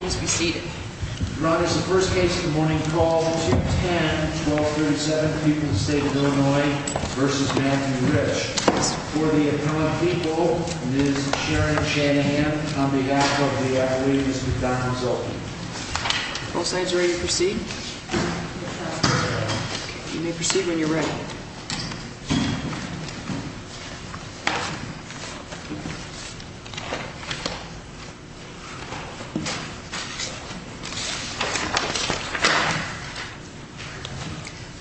The first case of the morning is called 210-1237, people of the state of Illinois v. Matthew Rich. For the appellate people, it is Sharon Shanahan on behalf of the Williams-McDonough Zoltan. Both sides ready to proceed? You may proceed when you're ready.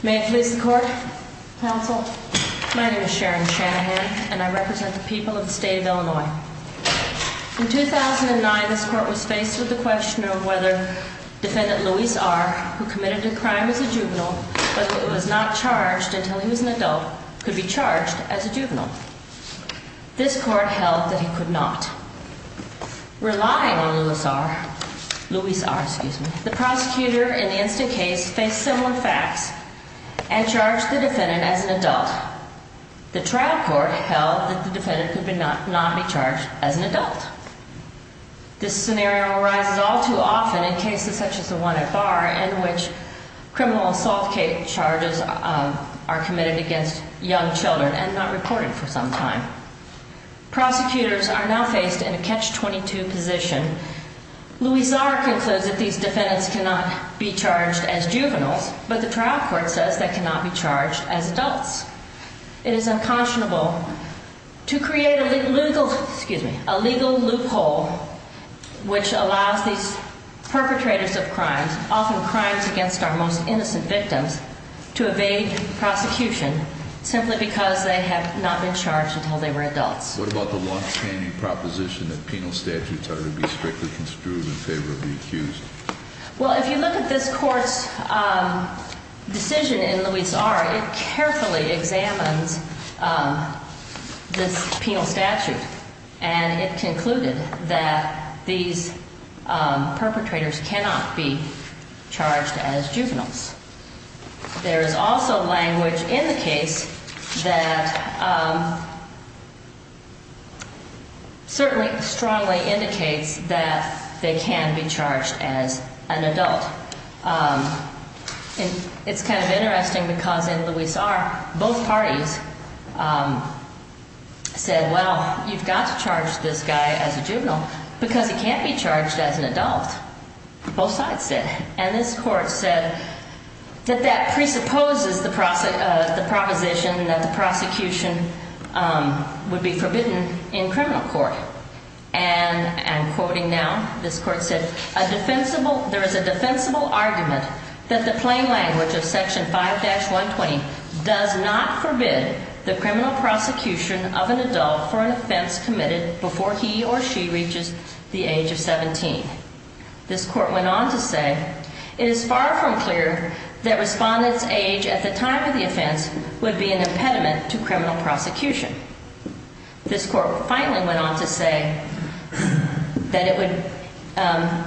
May it please the court, counsel? My name is Sharon Shanahan, and I represent the people of the state of Illinois. In 2009, this court was faced with the question of whether defendant Luis R., who committed a crime as a juvenile, but who was not charged until he was an adult, could be charged as a juvenile. This court held that he could not. Relying on Luis R., the prosecutor in the incident case faced similar facts and charged the defendant as an adult. The trial court held that the defendant could not be charged as an adult. This scenario arises all too often in cases such as the one at Barr, in which criminal assault charges are committed against young children and not reported for some time. Prosecutors are now faced in a catch-22 position. Luis R. concludes that these defendants cannot be charged as juveniles, but the trial court says they cannot be charged as adults. It is unconscionable to create a legal loophole which allows these perpetrators of crimes, often crimes against our most innocent victims, to evade prosecution simply because they have not been charged until they were adults. What about the longstanding proposition that penal statutes are to be strictly construed in favor of the accused? Well, if you look at this court's decision in Luis R., it carefully examines this penal statute, and it concluded that these perpetrators cannot be charged as juveniles. There is also language in the case that certainly strongly indicates that they can be charged as an adult. It's kind of interesting because in Luis R., both parties said, well, you've got to charge this guy as a juvenile because he can't be charged as an adult. Both sides said it. And this court said that that presupposes the proposition that the prosecution would be forbidden in criminal court. And I'm quoting now, this court said, There is a defensible argument that the plain language of Section 5-120 does not forbid the criminal prosecution of an adult for an offense committed before he or she reaches the age of 17. This court went on to say, It is far from clear that respondents' age at the time of the offense would be an impediment to criminal prosecution. This court finally went on to say that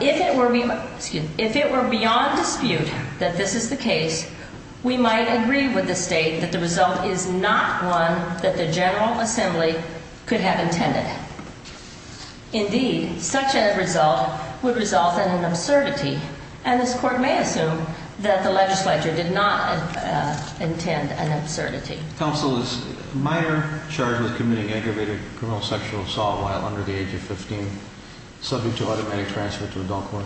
if it were beyond dispute that this is the case, we might agree with the state that the result is not one that the General Assembly could have intended. Indeed, such a result would result in an absurdity. And this court may assume that the legislature did not intend an absurdity. Counsel, is a minor charged with committing aggravated criminal sexual assault while under the age of 15 subject to automatic transfer to adult court?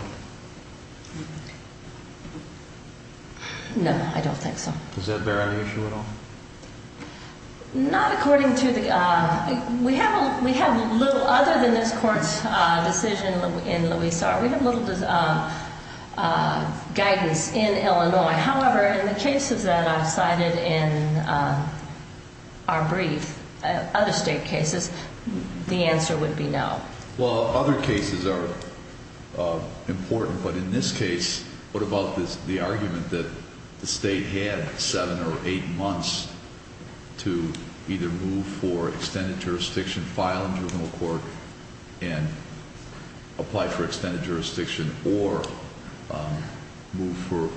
No, I don't think so. Does that bear on the issue at all? Not according to the... We have little, other than this court's decision in Louisa, we have little guidance in Illinois. However, in the cases that I've cited in our brief, other state cases, the answer would be no. Well, other cases are important, but in this case, what about the argument that the state had seven or eight months to either move for extended jurisdiction, file in juvenile court, and apply for extended jurisdiction, or move for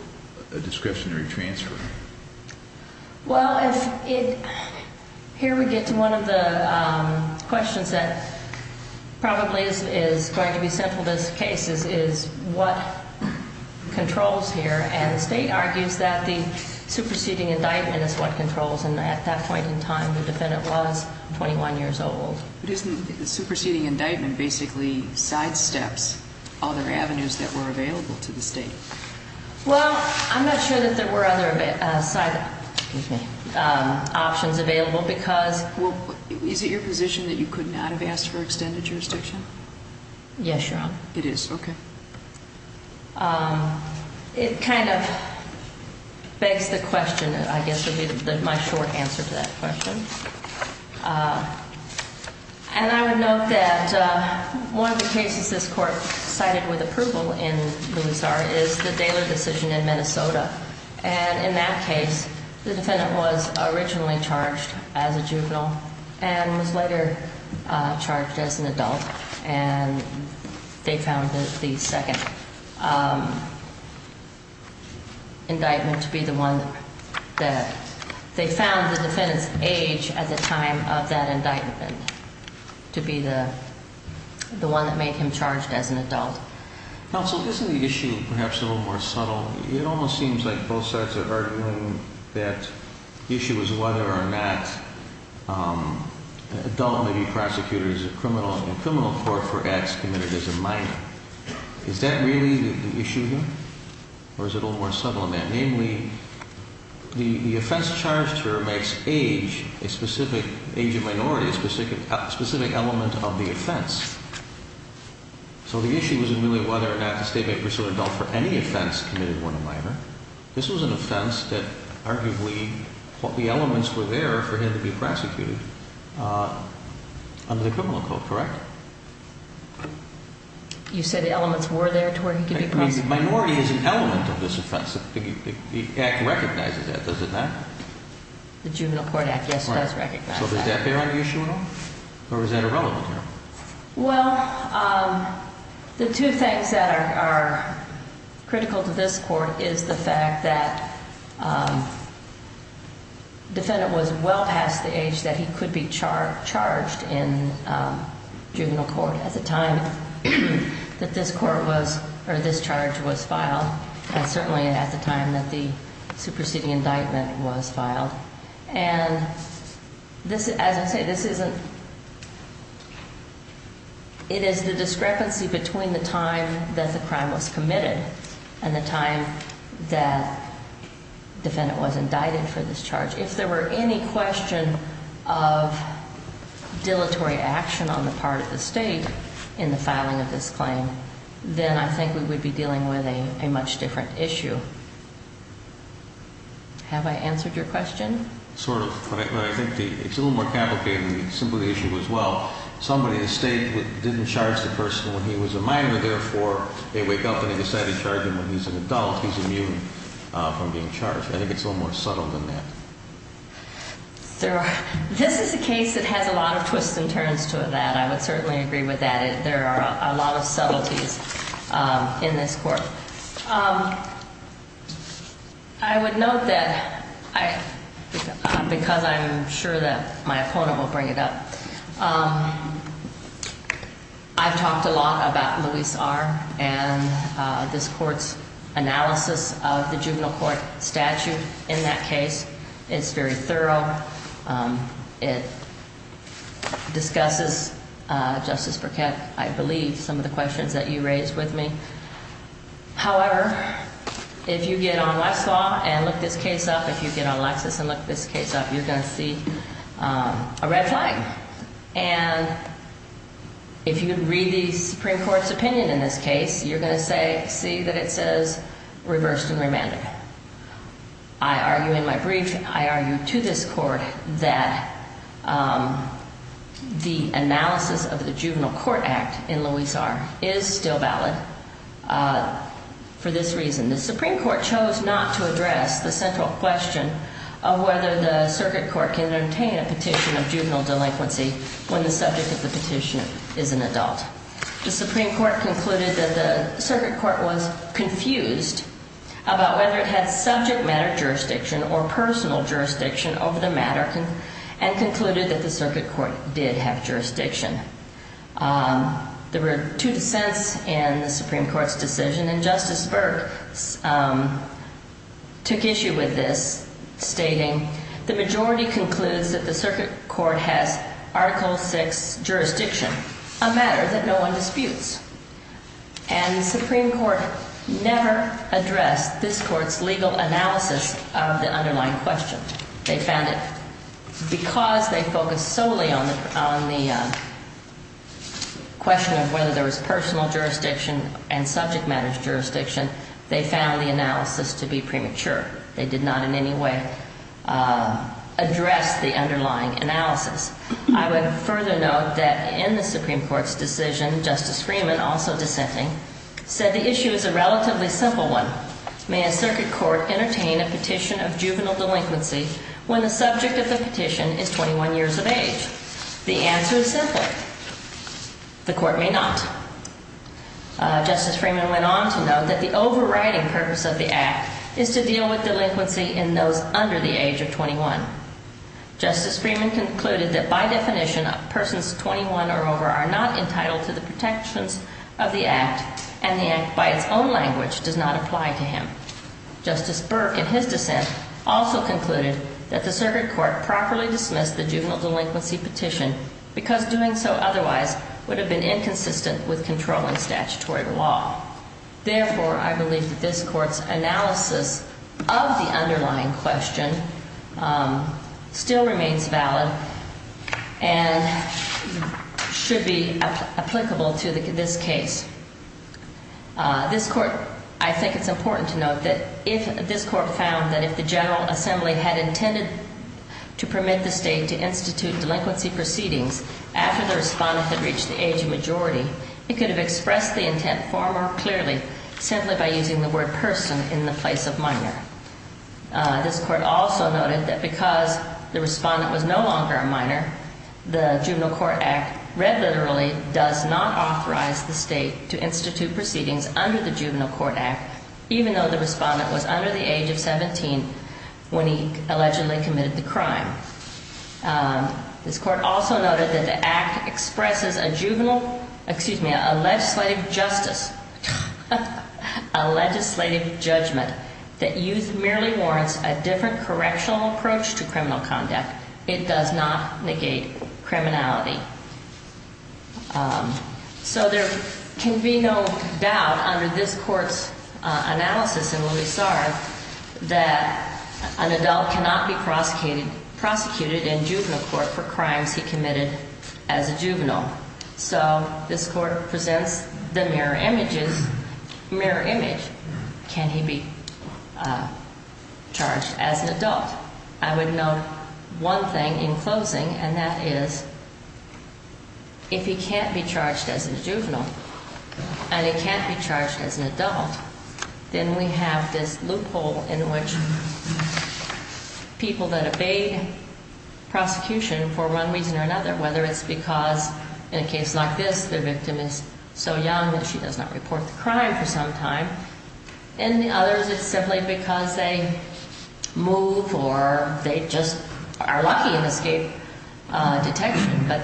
a discretionary transfer? Well, here we get to one of the questions that probably is going to be central to this case, is what controls here, and the state argues that the superseding indictment is what controls, and at that point in time, the defendant was 21 years old. But isn't the superseding indictment basically sidesteps other avenues that were available to the state? Well, I'm not sure that there were other side options available because... Well, is it your position that you could not have asked for extended jurisdiction? Yes, Your Honor. It is, okay. It kind of begs the question, I guess, of my short answer to that question. And I would note that one of the cases this Court cited with approval in Louis R. is the Daler decision in Minnesota, and in that case, the defendant was originally charged as a juvenile and was later charged as an adult, and they found that the second indictment to be the one that... to be the one that made him charged as an adult. Counsel, isn't the issue perhaps a little more subtle? It almost seems like both sides are arguing that the issue is whether or not an adult may be prosecuted as a criminal, and a criminal court for acts committed as a minor. Is that really the issue here, or is it a little more subtle than that? The offense charged here makes age, age of minority, a specific element of the offense. So the issue isn't really whether or not the state may pursue an adult for any offense committed when a minor. This was an offense that arguably the elements were there for him to be prosecuted under the criminal code, correct? You say the elements were there to where he could be prosecuted? The minority is an element of this offense. The Act recognizes that, does it not? The Juvenile Court Act, yes, it does recognize that. So does that bear on the issue at all, or is that irrelevant here? Well, the two things that are critical to this court is the fact that the defendant was well past the age that he could be charged in juvenile court at the time that this court was, or this charge was filed, and certainly at the time that the superseding indictment was filed. And this, as I say, this isn't, it is the discrepancy between the time that the crime was committed and the time that the defendant was indicted for this charge. If there were any question of dilatory action on the part of the state in the filing of this claim, then I think we would be dealing with a much different issue. Have I answered your question? Sort of, but I think it's a little more complicated than the simple issue as well. Somebody in the state didn't charge the person when he was a minor, therefore they wake up and they decide to charge him when he's an adult, he's immune from being charged. I think it's a little more subtle than that. This is a case that has a lot of twists and turns to it, I would certainly agree with that. There are a lot of subtleties in this court. I would note that, because I'm sure that my opponent will bring it up, I've talked a lot about Luis R. and this court's analysis of the juvenile court statute in that case. It's very thorough. It discusses, Justice Burkett, I believe, some of the questions that you raised with me. However, if you get on Westlaw and look this case up, if you get on Lexis and look this case up, you're going to see a red flag. And if you read the Supreme Court's opinion in this case, you're going to see that it says reversed and remanded. I argue in my brief, I argue to this court, that the analysis of the juvenile court act in Luis R. is still valid for this reason. The Supreme Court chose not to address the central question of whether the circuit court can obtain a petition of juvenile delinquency when the subject of the petition is an adult. The Supreme Court concluded that the circuit court was confused about whether it had subject matter jurisdiction or personal jurisdiction over the matter, and concluded that the circuit court did have jurisdiction. There were two dissents in the Supreme Court's decision, and Justice Burke took issue with this, stating, the majority concludes that the circuit court has Article VI jurisdiction, a matter that no one disputes. And the Supreme Court never addressed this court's legal analysis of the underlying question. They found that because they focused solely on the question of whether there was personal jurisdiction and subject matter jurisdiction, they found the analysis to be premature. They did not in any way address the underlying analysis. I would further note that in the Supreme Court's decision, Justice Freeman, also dissenting, said the issue is a relatively simple one. May a circuit court entertain a petition of juvenile delinquency when the subject of the petition is 21 years of age? The answer is simple. The court may not. Justice Freeman went on to note that the overriding purpose of the Act is to deal with delinquency in those under the age of 21. Justice Freeman concluded that by definition, persons 21 or over are not entitled to the protections of the Act, and the Act by its own language does not apply to him. Justice Burke, in his dissent, also concluded that the circuit court properly dismissed the juvenile delinquency petition because doing so otherwise would have been inconsistent with controlling statutory law. Therefore, I believe that this Court's analysis of the underlying question still remains valid and should be applicable to this case. This Court, I think it's important to note that if this Court found that if the General Assembly had intended to permit the state to institute delinquency proceedings after the respondent had reached the age of majority, it could have expressed the intent far more clearly simply by using the word person in the place of minor. This Court also noted that because the respondent was no longer a minor, the Juvenile Court Act read literally does not authorize the state to institute proceedings under the Juvenile Court Act, even though the respondent was under the age of 17 when he allegedly committed the crime. This Court also noted that the Act expresses a juvenile, excuse me, a legislative justice, a legislative judgment that youth merely warrants a different correctional approach to criminal conduct. It does not negate criminality. So there can be no doubt under this Court's analysis and what we saw that an adult cannot be prosecuted in juvenile court for crimes he committed as a juvenile. So this Court presents the mirror image. Can he be charged as an adult? I would note one thing in closing, and that is if he can't be charged as a juvenile and he can't be charged as an adult, then we have this loophole in which people that obey prosecution for one reason or another, whether it's because in a case like this the victim is so young that she does not report the crime for some time, and in others it's simply because they move or they just are lucky and escape detection. But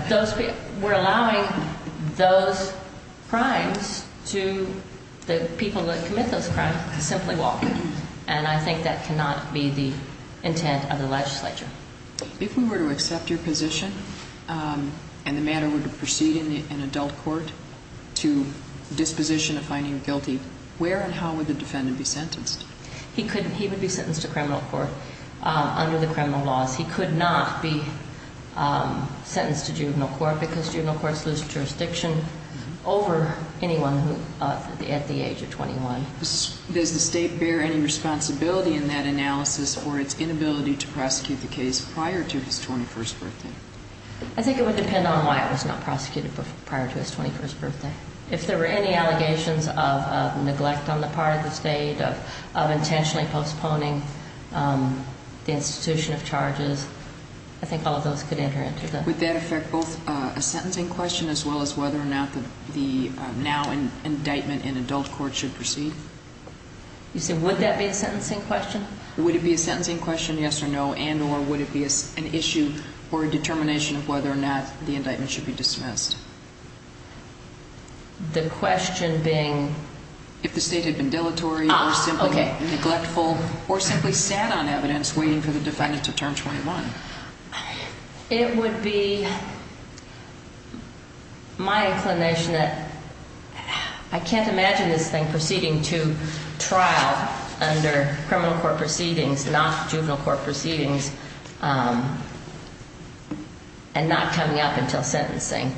we're allowing those crimes to the people that commit those crimes to simply walk, and I think that cannot be the intent of the legislature. If we were to accept your position and the matter were to proceed in an adult court to disposition of finding guilty, where and how would the defendant be sentenced? He would be sentenced to criminal court under the criminal laws. He could not be sentenced to juvenile court because juvenile courts lose jurisdiction over anyone at the age of 21. Does the State bear any responsibility in that analysis for its inability to prosecute the case prior to his 21st birthday? I think it would depend on why it was not prosecuted prior to his 21st birthday. If there were any allegations of neglect on the part of the State, of intentionally postponing the institution of charges, I think all of those could enter into that. Would that affect both a sentencing question as well as whether or not the now indictment in adult court should proceed? You said would that be a sentencing question? Would it be a sentencing question, yes or no, and or would it be an issue or a determination of whether or not the indictment should be dismissed? The question being? If the State had been dilatory or simply neglectful or simply sat on evidence waiting for the defendant to turn 21. It would be my inclination that I can't imagine this thing proceeding to trial under criminal court proceedings, not juvenile court proceedings, and not coming up until sentencing.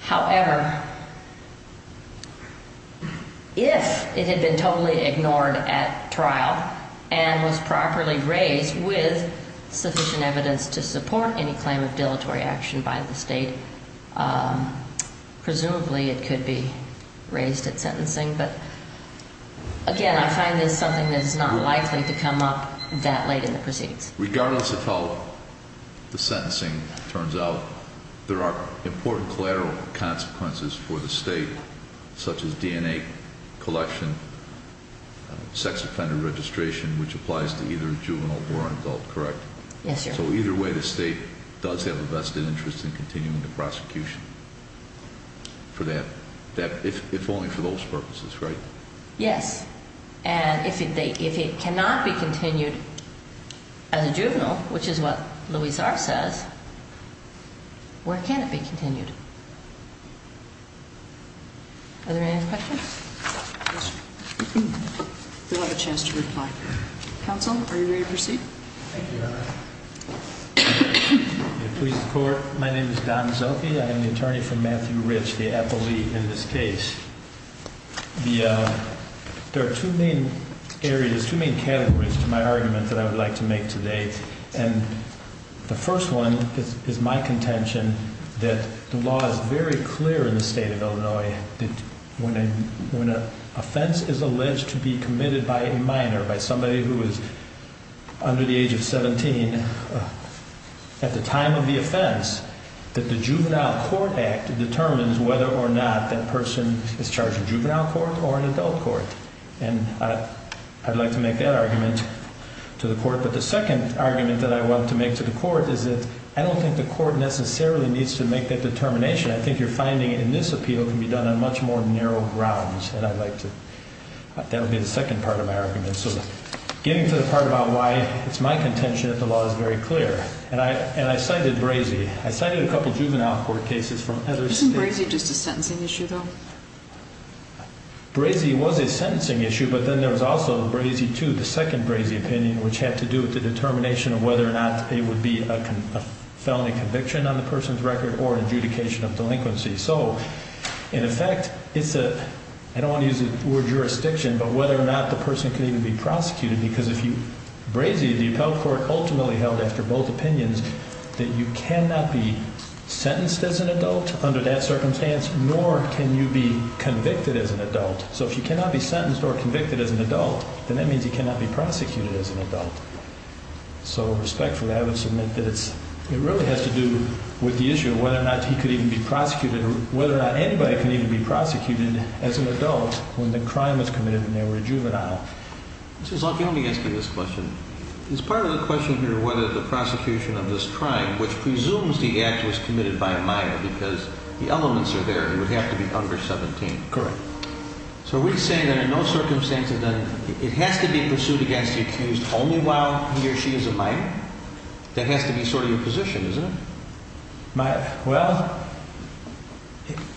However, if it had been totally ignored at trial and was properly raised with sufficient evidence to support any claim of dilatory action by the State, presumably it could be raised at sentencing. But again, I find this something that is not likely to come up that late in the proceedings. Regardless of how the sentencing turns out, there are important collateral consequences for the State, such as DNA collection, sex offender registration, which applies to either juvenile or adult, correct? Yes, Your Honor. So either way, the State does have a vested interest in continuing the prosecution for that, if only for those purposes, right? Yes. And if it cannot be continued as a juvenile, which is what Louise R. says, where can it be continued? Are there any other questions? We'll have a chance to reply. Counsel, are you ready to proceed? Thank you, Your Honor. Please report. My name is Don Zoki. I am the attorney for Matthew Rich, the appellee in this case. There are two main areas, two main categories to my argument that I would like to make today. And the first one is my contention that the law is very clear in the State of Illinois that when an offense is alleged to be committed by a minor, by somebody who is under the age of 17, at the time of the offense, that the Juvenile Court Act determines whether or not that person is charged in juvenile court or in adult court. And I'd like to make that argument to the court. But the second argument that I want to make to the court is that I don't think the court necessarily needs to make that determination. I think your finding in this appeal can be done on much more narrow grounds. And I'd like to – that would be the second part of my argument. So getting to the part about why it's my contention that the law is very clear. And I cited Brazee. I cited a couple of juvenile court cases from other states. Isn't Brazee just a sentencing issue, though? Brazee was a sentencing issue, but then there was also Brazee II, the second Brazee opinion, which had to do with the determination of whether or not it would be a felony conviction on the person's record or an adjudication of delinquency. So, in effect, it's a – I don't want to use the word jurisdiction, but whether or not the person can even be prosecuted. Because if you – Brazee, the appellate court ultimately held, after both opinions, that you cannot be sentenced as an adult under that circumstance, nor can you be convicted as an adult. So if you cannot be sentenced or convicted as an adult, then that means you cannot be prosecuted as an adult. So, respectfully, I would submit that it's – it really has to do with the issue of whether or not he could even be prosecuted or whether or not anybody can even be prosecuted as an adult when the crime was committed when they were a juvenile. Mr. Zloty, let me ask you this question. Is part of the question here whether the prosecution of this crime, which presumes the act was committed by a minor because the elements are there, it would have to be under 17. Correct. So are we saying that in those circumstances, then, it has to be pursued against the accused only while he or she is a minor? That has to be sort of your position, isn't it? Well,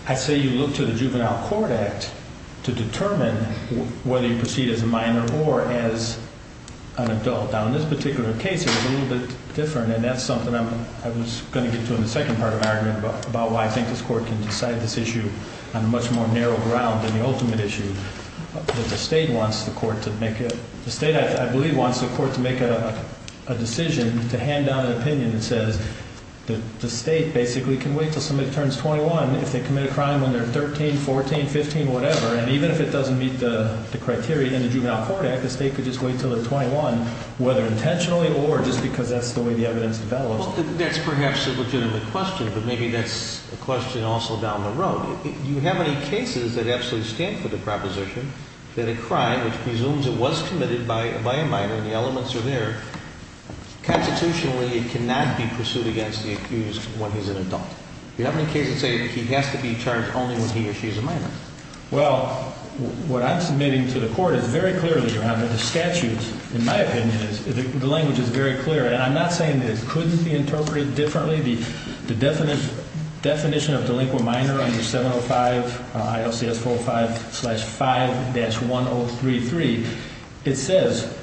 I say you look to the Juvenile Court Act to determine whether you proceed as a minor or as an adult. Now, in this particular case, it was a little bit different, and that's something I was going to get to in the second part of my argument about why I think this Court can decide this issue on a much more narrow ground than the ultimate issue. The State, I believe, wants the Court to make a decision to hand down an opinion that says the State basically can wait until somebody turns 21 if they commit a crime when they're 13, 14, 15, whatever. And even if it doesn't meet the criteria in the Juvenile Court Act, the State could just wait until they're 21, whether intentionally or just because that's the way the evidence develops. Well, that's perhaps a legitimate question, but maybe that's a question also down the road. Do you have any cases that absolutely stand for the proposition that a crime, which presumes it was committed by a minor, and the elements are there, constitutionally it cannot be pursued against the accused when he's an adult? Do you have any cases that say he has to be charged only when he or she is a minor? Well, what I'm submitting to the Court is very clearly, Your Honor, the statute, in my opinion, the language is very clear. And I'm not saying that it couldn't be interpreted differently. The definition of delinquent minor under 705 ILCS 405-5-1033, it says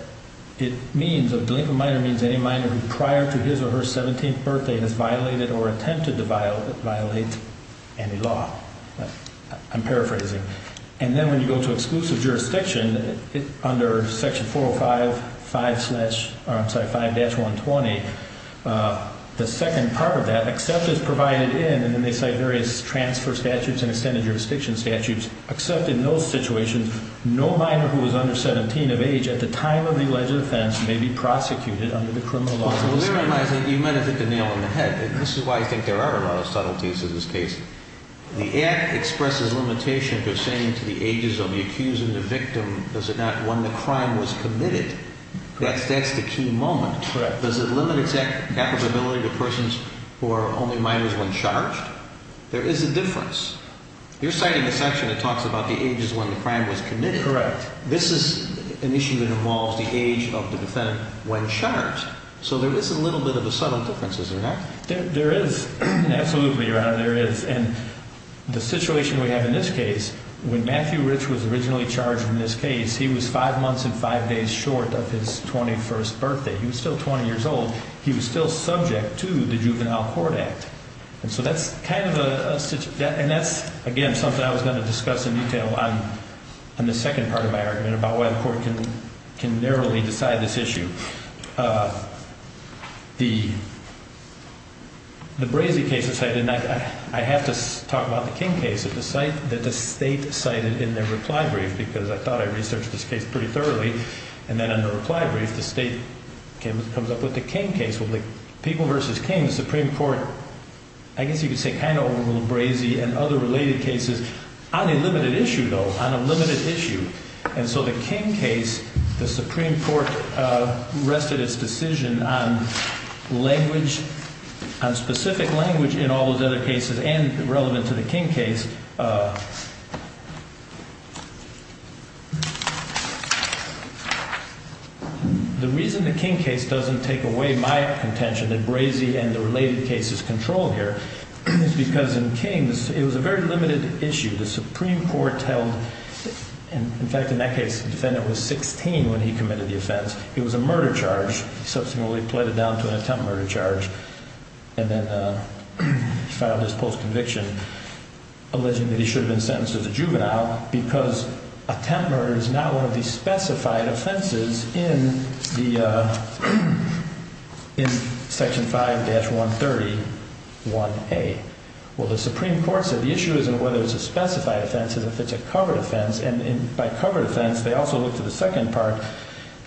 it means a delinquent minor means any minor who prior to his or her 17th birthday has violated or attempted to violate any law. I'm paraphrasing. And then when you go to exclusive jurisdiction, under Section 405-5-120, the second part of that, except as provided in, and then they cite various transfer statutes and extended jurisdiction statutes, except in those situations, no minor who is under 17 of age at the time of the alleged offense may be prosecuted under the criminal law. Well, therein lies a, you might have hit the nail on the head, and this is why I think there are a lot of subtleties to this case. The Act expresses limitations of saying to the ages of the accused and the victim, does it not, when the crime was committed. That's the key moment. Correct. Does it limit its applicability to persons who are only minors when charged? There is a difference. You're citing a section that talks about the ages when the crime was committed. Correct. This is an issue that involves the age of the defendant when charged. So there is a little bit of a subtle difference, isn't there? There is. Absolutely, Your Honor, there is. And the situation we have in this case, when Matthew Rich was originally charged in this case, he was five months and five days short of his 21st birthday. He was still 20 years old. He was still subject to the Juvenile Court Act. And so that's kind of a, and that's, again, something I was going to discuss in detail on the second part of my argument about why the court can narrowly decide this issue. The Brazy case is cited, and I have to talk about the King case that the state cited in their reply brief, because I thought I researched this case pretty thoroughly. And then in the reply brief, the state comes up with the King case. With the people versus King, the Supreme Court, I guess you could say kind of overruled Brazy and other related cases on a limited issue, though, on a limited issue. And so the King case, the Supreme Court rested its decision on language, on specific language in all those other cases and relevant to the King case. The reason the King case doesn't take away my contention that Brazy and the related cases control here is because in King's, it was a very limited issue. The Supreme Court held, in fact, in that case, the defendant was 16 when he committed the offense. It was a murder charge. He subsequently pleaded down to an attempt murder charge and then filed his post-conviction, alleging that he should have been sentenced as a juvenile because attempt murder is not one of the specified offenses in Section 5-130-1A. Well, the Supreme Court said the issue isn't whether it's a specified offense. It's if it's a covered offense. And by covered offense, they also looked at the second part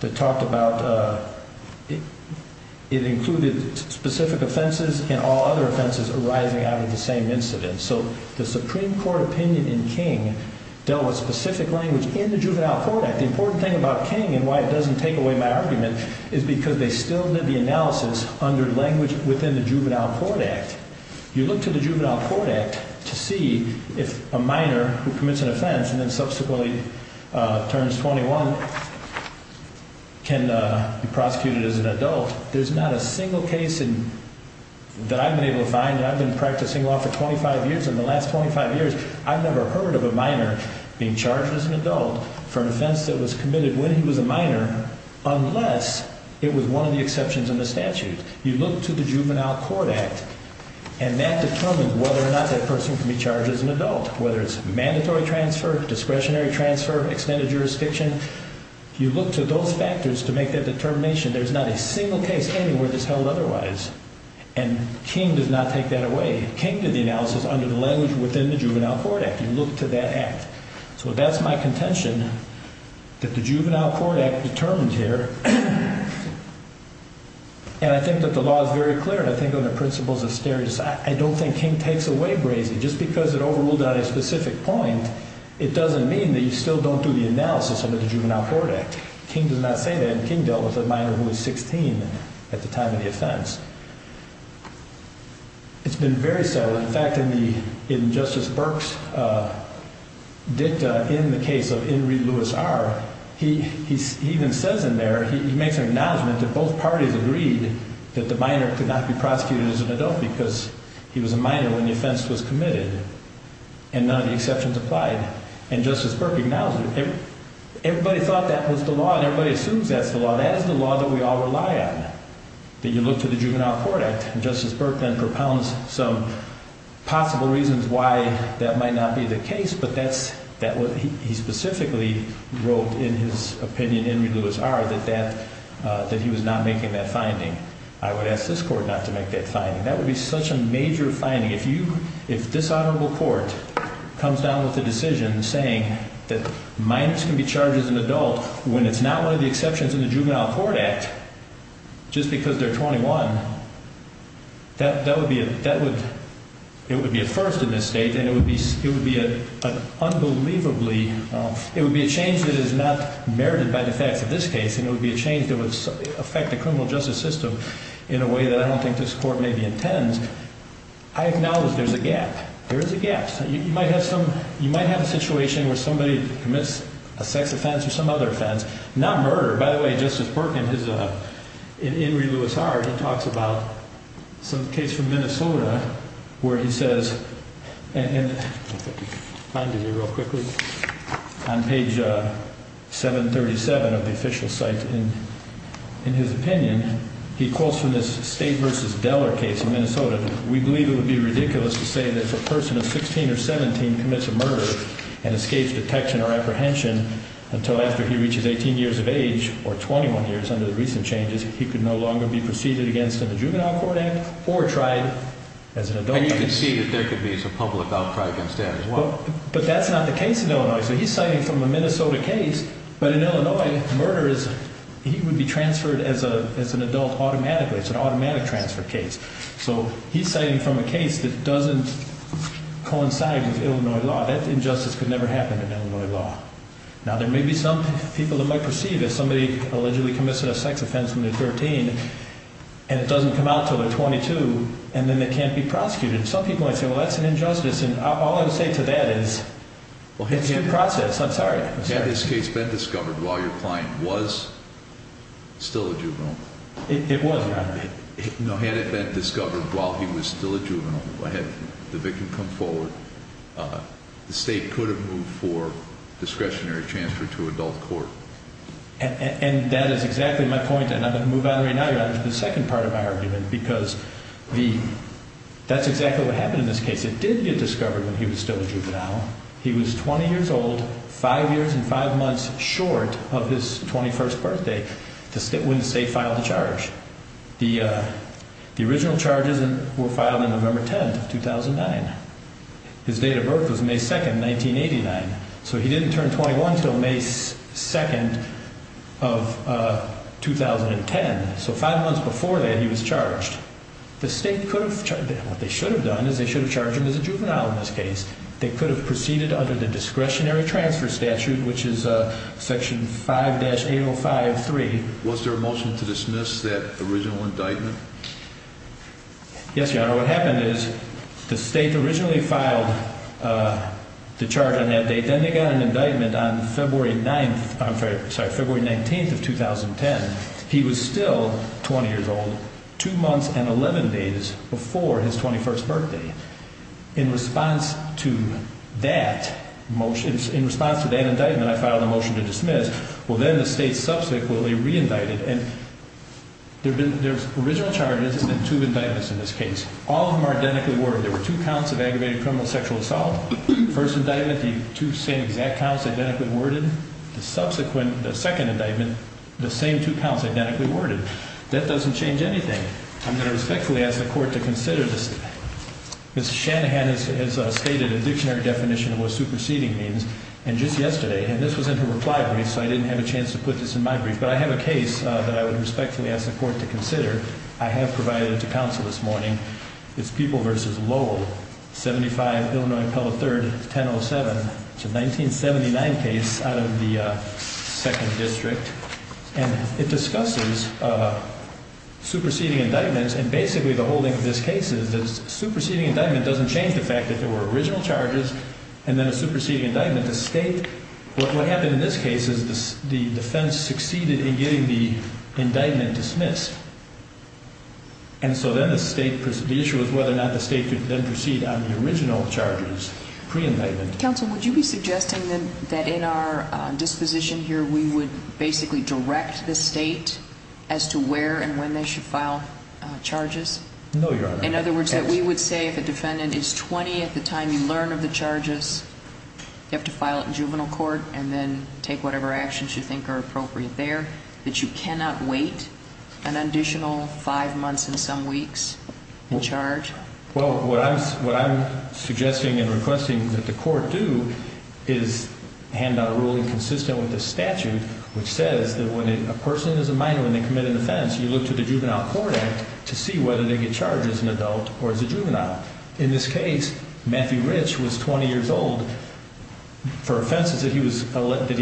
that talked about it included specific offenses and all other offenses arising out of the same incident. So the Supreme Court opinion in King dealt with specific language in the Juvenile Court Act. The important thing about King and why it doesn't take away my argument is because they still did the analysis under language within the Juvenile Court Act. You look to the Juvenile Court Act to see if a minor who commits an offense and then subsequently turns 21 can be prosecuted as an adult. There's not a single case that I've been able to find that I've been practicing law for 25 years. In the last 25 years, I've never heard of a minor being charged as an adult for an offense that was committed when he was a minor unless it was one of the exceptions in the statute. You look to the Juvenile Court Act, and that determines whether or not that person can be charged as an adult, whether it's mandatory transfer, discretionary transfer, extended jurisdiction. You look to those factors to make that determination. There's not a single case anywhere that's held otherwise, and King does not take that away. King did the analysis under the language within the Juvenile Court Act. You look to that act. So that's my contention that the Juvenile Court Act determines here. And I think that the law is very clear, and I think on the principles of stereotypes, I don't think King takes away Brazy. Just because it overruled on a specific point, it doesn't mean that you still don't do the analysis under the Juvenile Court Act. King does not say that, and King dealt with a minor who was 16 at the time of the offense. It's been very subtle. In fact, in Justice Burke's dicta in the case of Henry Louis R., he even says in there, he makes an acknowledgment that both parties agreed that the minor could not be prosecuted as an adult because he was a minor when the offense was committed, and none of the exceptions applied. And Justice Burke acknowledges it. Everybody thought that was the law, and everybody assumes that's the law. That is the law that we all rely on. But you look to the Juvenile Court Act, and Justice Burke then propounds some possible reasons why that might not be the case, but that's what he specifically wrote in his opinion, Henry Louis R., that he was not making that finding. I would ask this court not to make that finding. That would be such a major finding. If this honorable court comes down with a decision saying that minors can be charged as an adult when it's not one of the exceptions in the Juvenile Court Act, just because they're 21, that would be a first in this state, and it would be unbelievably – it would be a change that is not merited by the facts of this case, and it would be a change that would affect the criminal justice system in a way that I don't think this court maybe intends. I acknowledge there's a gap. There is a gap. You might have a situation where somebody commits a sex offense or some other offense, not murder. By the way, Justice Burke, in Henry Louis R., he talks about some case from Minnesota where he says – and if I can find it here real quickly – on page 737 of the official site, in his opinion, he calls from this State v. Deller case in Minnesota. We believe it would be ridiculous to say that if a person of 16 or 17 commits a murder and escapes detection or apprehension until after he reaches 18 years of age or 21 years under the recent changes, he could no longer be preceded against in the Juvenile Court Act or tried as an adult. And you can see that there could be some public outcry against that as well. But that's not the case in Illinois, so he's citing from a Minnesota case. But in Illinois, murder is – he would be transferred as an adult automatically. It's an automatic transfer case. So he's citing from a case that doesn't coincide with Illinois law. That injustice could never happen in Illinois law. Now, there may be some people that might perceive that somebody allegedly committed a sex offense when they're 13 and it doesn't come out until they're 22, and then they can't be prosecuted. Some people might say, well, that's an injustice. And all I would say to that is it's due process. I'm sorry. Had this case been discovered while your client was still a juvenile? It was, Your Honor. No, had it been discovered while he was still a juvenile, had the victim come forward, the State could have moved for discretionary transfer to adult court. And that is exactly my point, and I'm going to move on right now, Your Honor, to the second part of my argument, because that's exactly what happened in this case. It did get discovered when he was still a juvenile. He was 20 years old, five years and five months short of his 21st birthday when the State filed the charge. The original charges were filed on November 10, 2009. His date of birth was May 2, 1989. So he didn't turn 21 until May 2, 2010. So five months before that, he was charged. The State could have charged him. What they should have done is they should have charged him as a juvenile in this case. They could have proceeded under the discretionary transfer statute, which is Section 5-805-3. Was there a motion to dismiss that original indictment? Yes, Your Honor. What happened is the State originally filed the charge on that date. Then they got an indictment on February 9th – I'm sorry, February 19th of 2010. He was still 20 years old, two months and 11 days before his 21st birthday. In response to that motion – in response to that indictment, I filed a motion to dismiss. Well, then the State subsequently re-indicted. There's original charges and two indictments in this case. All of them are identically worded. There were two counts of aggravated criminal sexual assault. The first indictment, the two same exact counts, identically worded. The subsequent, the second indictment, the same two counts, identically worded. That doesn't change anything. I'm going to respectfully ask the Court to consider this. Ms. Shanahan has stated a dictionary definition of what superseding means. And just yesterday – and this was in her reply brief, so I didn't have a chance to put this in my brief – but I have a case that I would respectfully ask the Court to consider. I have provided it to counsel this morning. It's People v. Lowell, 75 Illinois Pella 3rd, 1007. It's a 1979 case out of the 2nd District. And it discusses superseding indictments. And basically the whole thing of this case is that a superseding indictment doesn't change the fact that there were original charges and then a superseding indictment to state what happened in this case is the defense succeeded in getting the indictment dismissed. And so then the issue is whether or not the state could then proceed on the original charges pre-indictment. Counsel, would you be suggesting that in our disposition here we would basically direct the state as to where and when they should file charges? No, Your Honor. In other words, that we would say if a defendant is 20 at the time you learn of the charges, you have to file it in juvenile court and then take whatever actions you think are appropriate there, that you cannot wait an additional five months and some weeks in charge? Well, what I'm suggesting and requesting that the Court do is hand out a ruling consistent with the statute which says that when a person is a minor and they commit an offense, you look to the Juvenile Court Act to see whether they get charged as an adult or as a juvenile. In this case, Matthew Rich was 20 years old. For offenses that he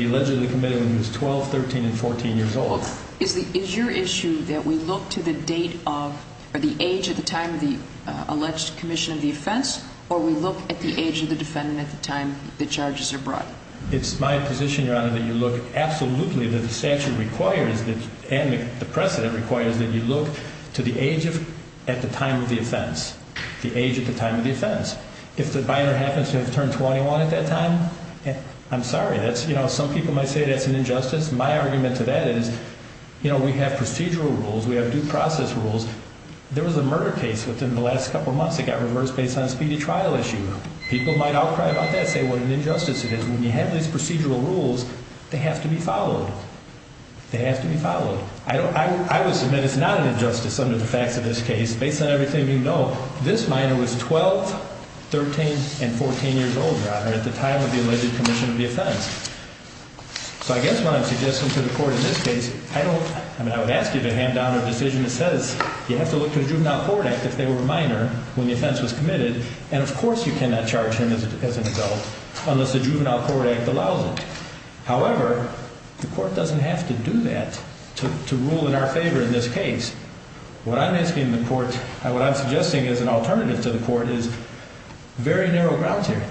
allegedly committed when he was 12, 13, and 14 years old. Is your issue that we look to the date of or the age at the time of the alleged commission of the offense or we look at the age of the defendant at the time the charges are brought? It's my position, Your Honor, that you look absolutely that the statute requires and the precedent requires that you look to the age at the time of the offense. The age at the time of the offense. If the minor happens to have turned 21 at that time, I'm sorry. Some people might say that's an injustice. My argument to that is we have procedural rules. We have due process rules. There was a murder case within the last couple of months that got reversed based on a speedy trial issue. People might outcry about that and say what an injustice it is. When you have these procedural rules, they have to be followed. They have to be followed. I would submit it's not an injustice under the facts of this case. Based on everything you know, this minor was 12, 13, and 14 years old, Your Honor, at the time of the alleged commission of the offense. So I guess what I'm suggesting to the court in this case, I would ask you to hand down a decision that says you have to look to the Juvenile Forward Act if they were a minor when the offense was committed and of course you cannot charge him as an adult unless the Juvenile Forward Act allows it. However, the court doesn't have to do that to rule in our favor in this case. What I'm asking the court, what I'm suggesting as an alternative to the court is very narrow grounds here.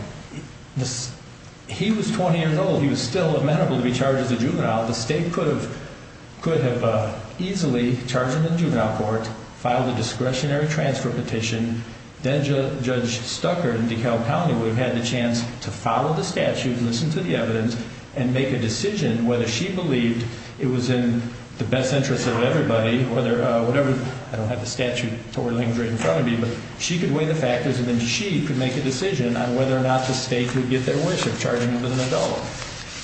He was 20 years old. He was still amenable to be charged as a juvenile. The state could have easily charged him in the juvenile court, filed a discretionary transfer petition, then Judge Stucker in DeKalb County would have had the chance to follow the statute, listen to the evidence, and make a decision whether she believed it was in the best interest of everybody, whether whatever, I don't have the statute or the language right in front of me, but she could weigh the factors and then she could make a decision on whether or not the state would get their wish of charging him as an adult.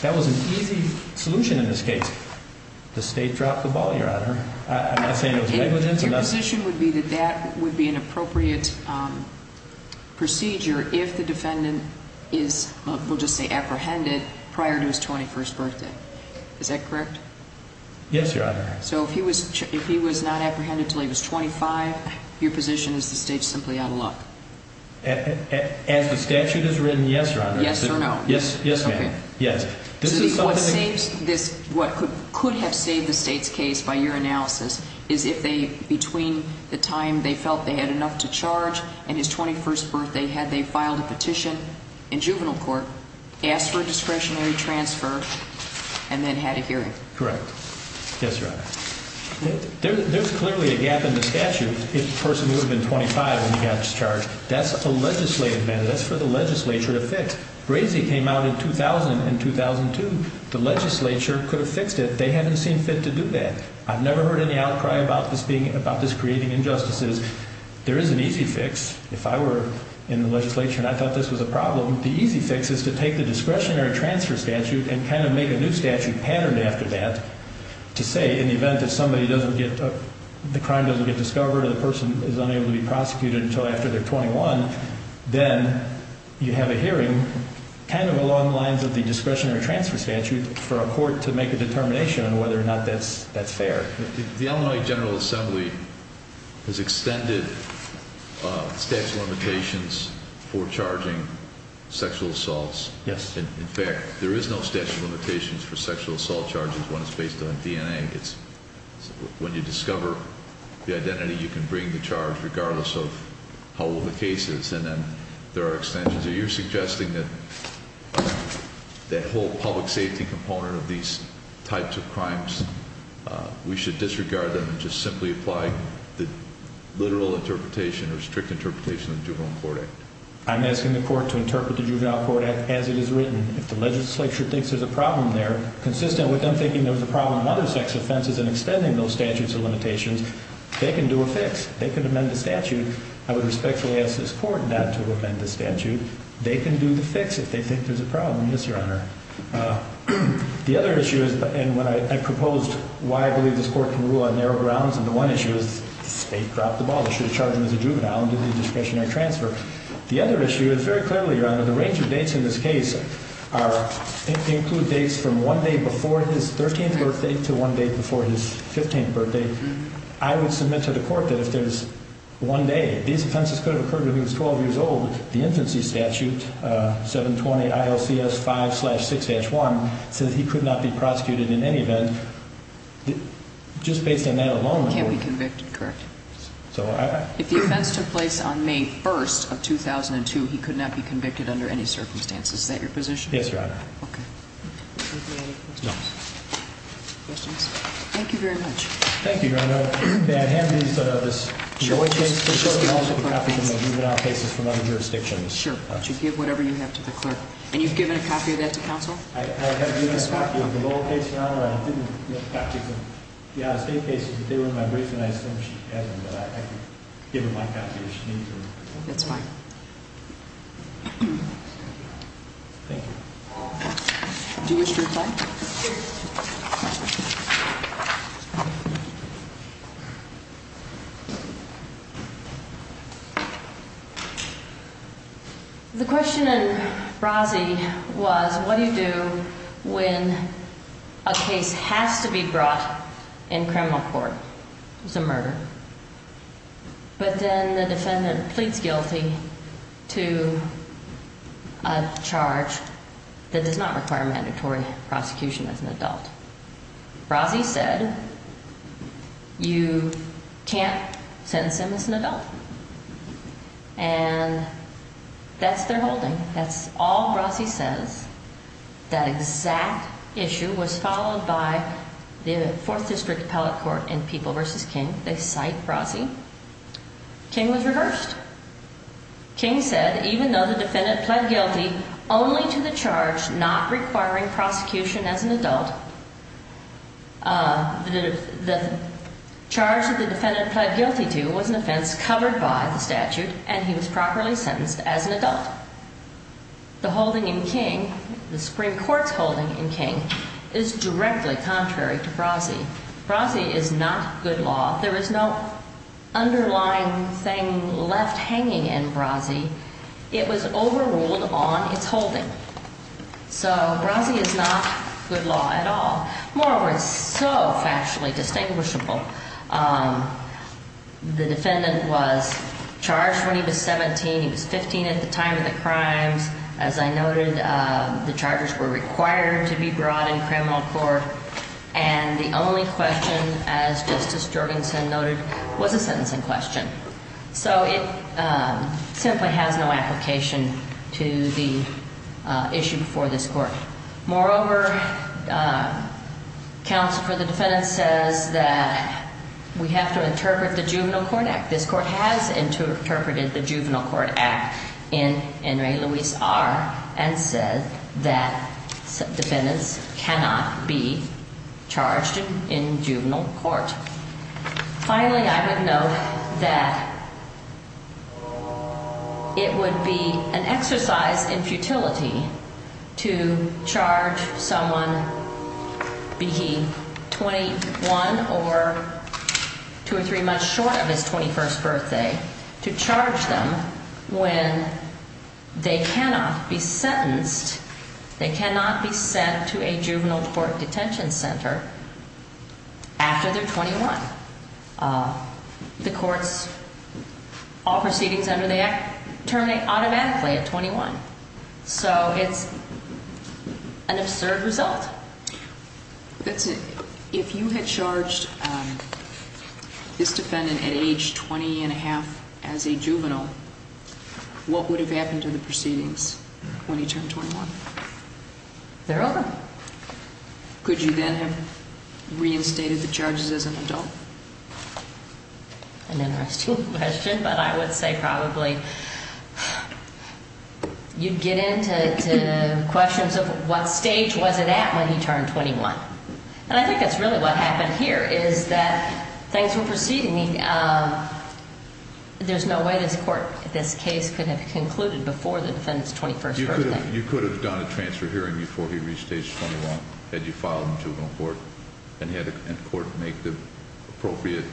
That was an easy solution in this case. The state dropped the ball, Your Honor. I'm not saying it was negligent. Your position would be that that would be an appropriate procedure if the defendant is, we'll just say apprehended, prior to his 21st birthday. Is that correct? Yes, Your Honor. So if he was not apprehended until he was 25, your position is the state's simply out of luck? As the statute has written, yes, Your Honor. Yes or no? Yes, ma'am. Yes. What could have saved the state's case by your analysis is if they, between the time they felt they had enough to charge and his 21st birthday, had they filed a petition in juvenile court, asked for a discretionary transfer, and then had a hearing. Correct. Yes, Your Honor. There's clearly a gap in the statute if the person would have been 25 when he got charged. That's for the legislature to fix. Brazy came out in 2000 and 2002. The legislature could have fixed it. They haven't seen fit to do that. I've never heard any outcry about this being, about this creating injustices. There is an easy fix. If I were in the legislature and I thought this was a problem, the easy fix is to take the discretionary transfer statute and kind of make a new statute patterned after that to say in the event that somebody doesn't get, the crime doesn't get discovered or the person is unable to be prosecuted until after they're 21, then you have a hearing kind of along the lines of the discretionary transfer statute for a court to make a determination on whether or not that's fair. The Illinois General Assembly has extended statute of limitations for charging sexual assaults. Yes. In fact, there is no statute of limitations for sexual assault charges when it's based on DNA. When you discover the identity, you can bring the charge regardless of how old the case is. And then there are extensions. Are you suggesting that that whole public safety component of these types of crimes, we should disregard them and just simply apply the literal interpretation or strict interpretation of the Juvenile Court Act? I'm asking the court to interpret the Juvenile Court Act as it is written. And if the legislature thinks there's a problem there, consistent with them thinking there was a problem in other sex offenses and extending those statutes of limitations, they can do a fix. They can amend the statute. I would respectfully ask this court not to amend the statute. They can do the fix if they think there's a problem, yes, Your Honor. The other issue is, and when I proposed why I believe this court can rule on narrow grounds, and the one issue is the state dropped the ball. They should have charged him as a juvenile and did the discretionary transfer. The other issue is, very clearly, Your Honor, the range of dates in this case include dates from one day before his 13th birthday to one day before his 15th birthday. I would submit to the court that if there's one day, these offenses could have occurred when he was 12 years old. The infancy statute, 720 ILCS 5-6-1, says he could not be prosecuted in any event. Just based on that alone. He can't be convicted, correct. If the offense took place on May 1st of 2002, he could not be convicted under any circumstances. Is that your position? Yes, Your Honor. Okay. Are there any questions? No. Questions? Thank you very much. Thank you, Your Honor. May I have these copies of the juvenile cases from other jurisdictions? Sure. You should give whatever you have to the clerk. And you've given a copy of that to counsel? I have given a copy of the lower case, Your Honor. I didn't give copies of the out-of-state cases, but they were in my brief, and I assume she has them. But I could give her my copy if she needs them. That's fine. Thank you. Do you wish to reply? Yes. Thank you. The question in Brazee was, what do you do when a case has to be brought in criminal court? It's a murder. But then the defendant pleads guilty to a charge that does not require mandatory prosecution as an adult. Brazee said, you can't sentence him as an adult. And that's their holding. That's all Brazee says. That exact issue was followed by the Fourth District Appellate Court in People v. King. They cite Brazee. King was reversed. King said, even though the defendant pled guilty only to the charge not requiring prosecution as an adult, the charge that the defendant pled guilty to was an offense covered by the statute, and he was properly sentenced as an adult. The holding in King, the Supreme Court's holding in King, is directly contrary to Brazee. Brazee is not good law. There is no underlying thing left hanging in Brazee. It was overruled on its holding. So Brazee is not good law at all. Moreover, it's so factually distinguishable. The defendant was charged when he was 17. He was 15 at the time of the crimes. As I noted, the charges were required to be brought in criminal court. And the only question, as Justice Jorgensen noted, was a sentencing question. So it simply has no application to the issue before this court. Moreover, counsel for the defendant says that we have to interpret the Juvenile Court Act. This court has interpreted the Juvenile Court Act in En Re Luis R and said that defendants cannot be charged in juvenile court. Finally, I would note that it would be an exercise in futility to charge someone, be he 21 or two or three months short of his 21st birthday, to charge them when they cannot be sentenced, they cannot be sent to a juvenile court detention center after they're 21. The courts, all proceedings under the act turn automatically at 21. So it's an absurd result. If you had charged this defendant at age 20 and a half as a juvenile, what would have happened to the proceedings when he turned 21? They're over. Could you then have reinstated the charges as an adult? An interesting question, but I would say probably you'd get into questions of what stage was it at when he turned 21. And I think that's really what happened here, is that thanks for proceeding, there's no way this case could have concluded before the defendant's 21st birthday. You could have done a transfer hearing before he reached age 21, had you filed in juvenile court, and had the court make the appropriate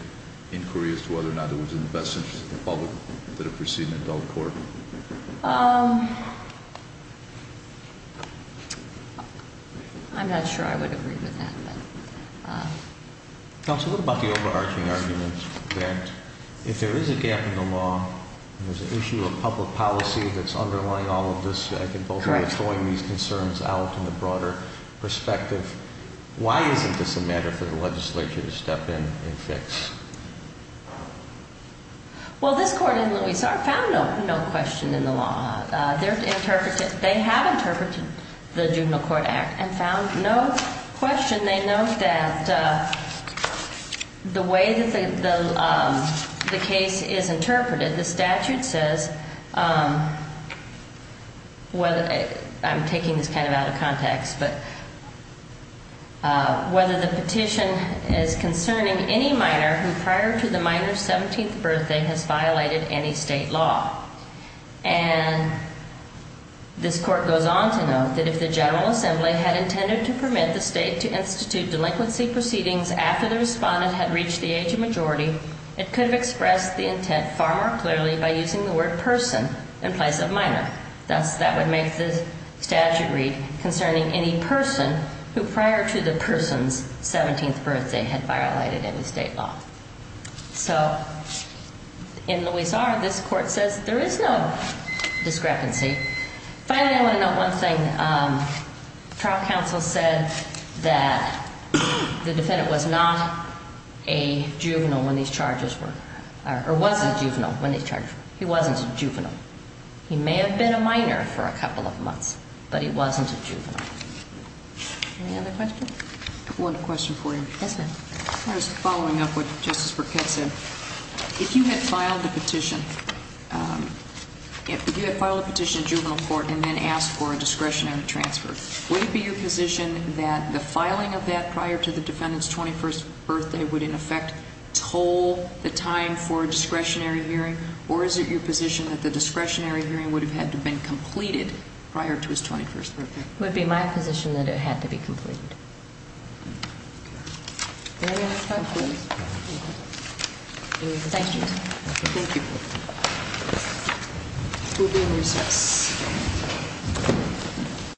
inquiries as to whether or not it was in the best interest of the public that it proceed in adult court. I'm not sure I would agree with that. Now, it's a little about the overarching argument that if there is a gap in the law, there's an issue of public policy that's underlying all of this. I think both of you are throwing these concerns out in a broader perspective. Why isn't this a matter for the legislature to step in and fix? Well, this court in Louisville found no question in the law. They have interpreted the Juvenile Court Act and found no question. They note that the way that the case is interpreted, the statute says, I'm taking this kind of out of context, but whether the petition is concerning any minor who prior to the minor's 17th birthday has violated any state law. And this court goes on to note that if the General Assembly had intended to permit the state to institute delinquency proceedings after the respondent had reached the age of majority, it could have expressed the intent far more clearly by using the word person in place of minor. Thus, that would make the statute read concerning any person who prior to the person's 17th birthday had violated any state law. So, in Louis R, this court says there is no discrepancy. Finally, I want to note one thing. Trial counsel said that the defendant was not a juvenile when these charges were, or was a juvenile when these charges were. He wasn't a juvenile. He may have been a minor for a couple of months, but he wasn't a juvenile. Any other questions? I have one question for you. Yes, ma'am. I was following up what Justice Burkett said. If you had filed a petition, if you had filed a petition in juvenile court and then asked for a discretionary transfer, would it be your position that the filing of that prior to the defendant's 21st birthday would, in effect, toll the time for a discretionary hearing, or is it your position that the discretionary hearing would have had to have been completed prior to his 21st birthday? It would be my position that it had to be completed. Any other questions? Thank you. Thank you. We'll be in recess.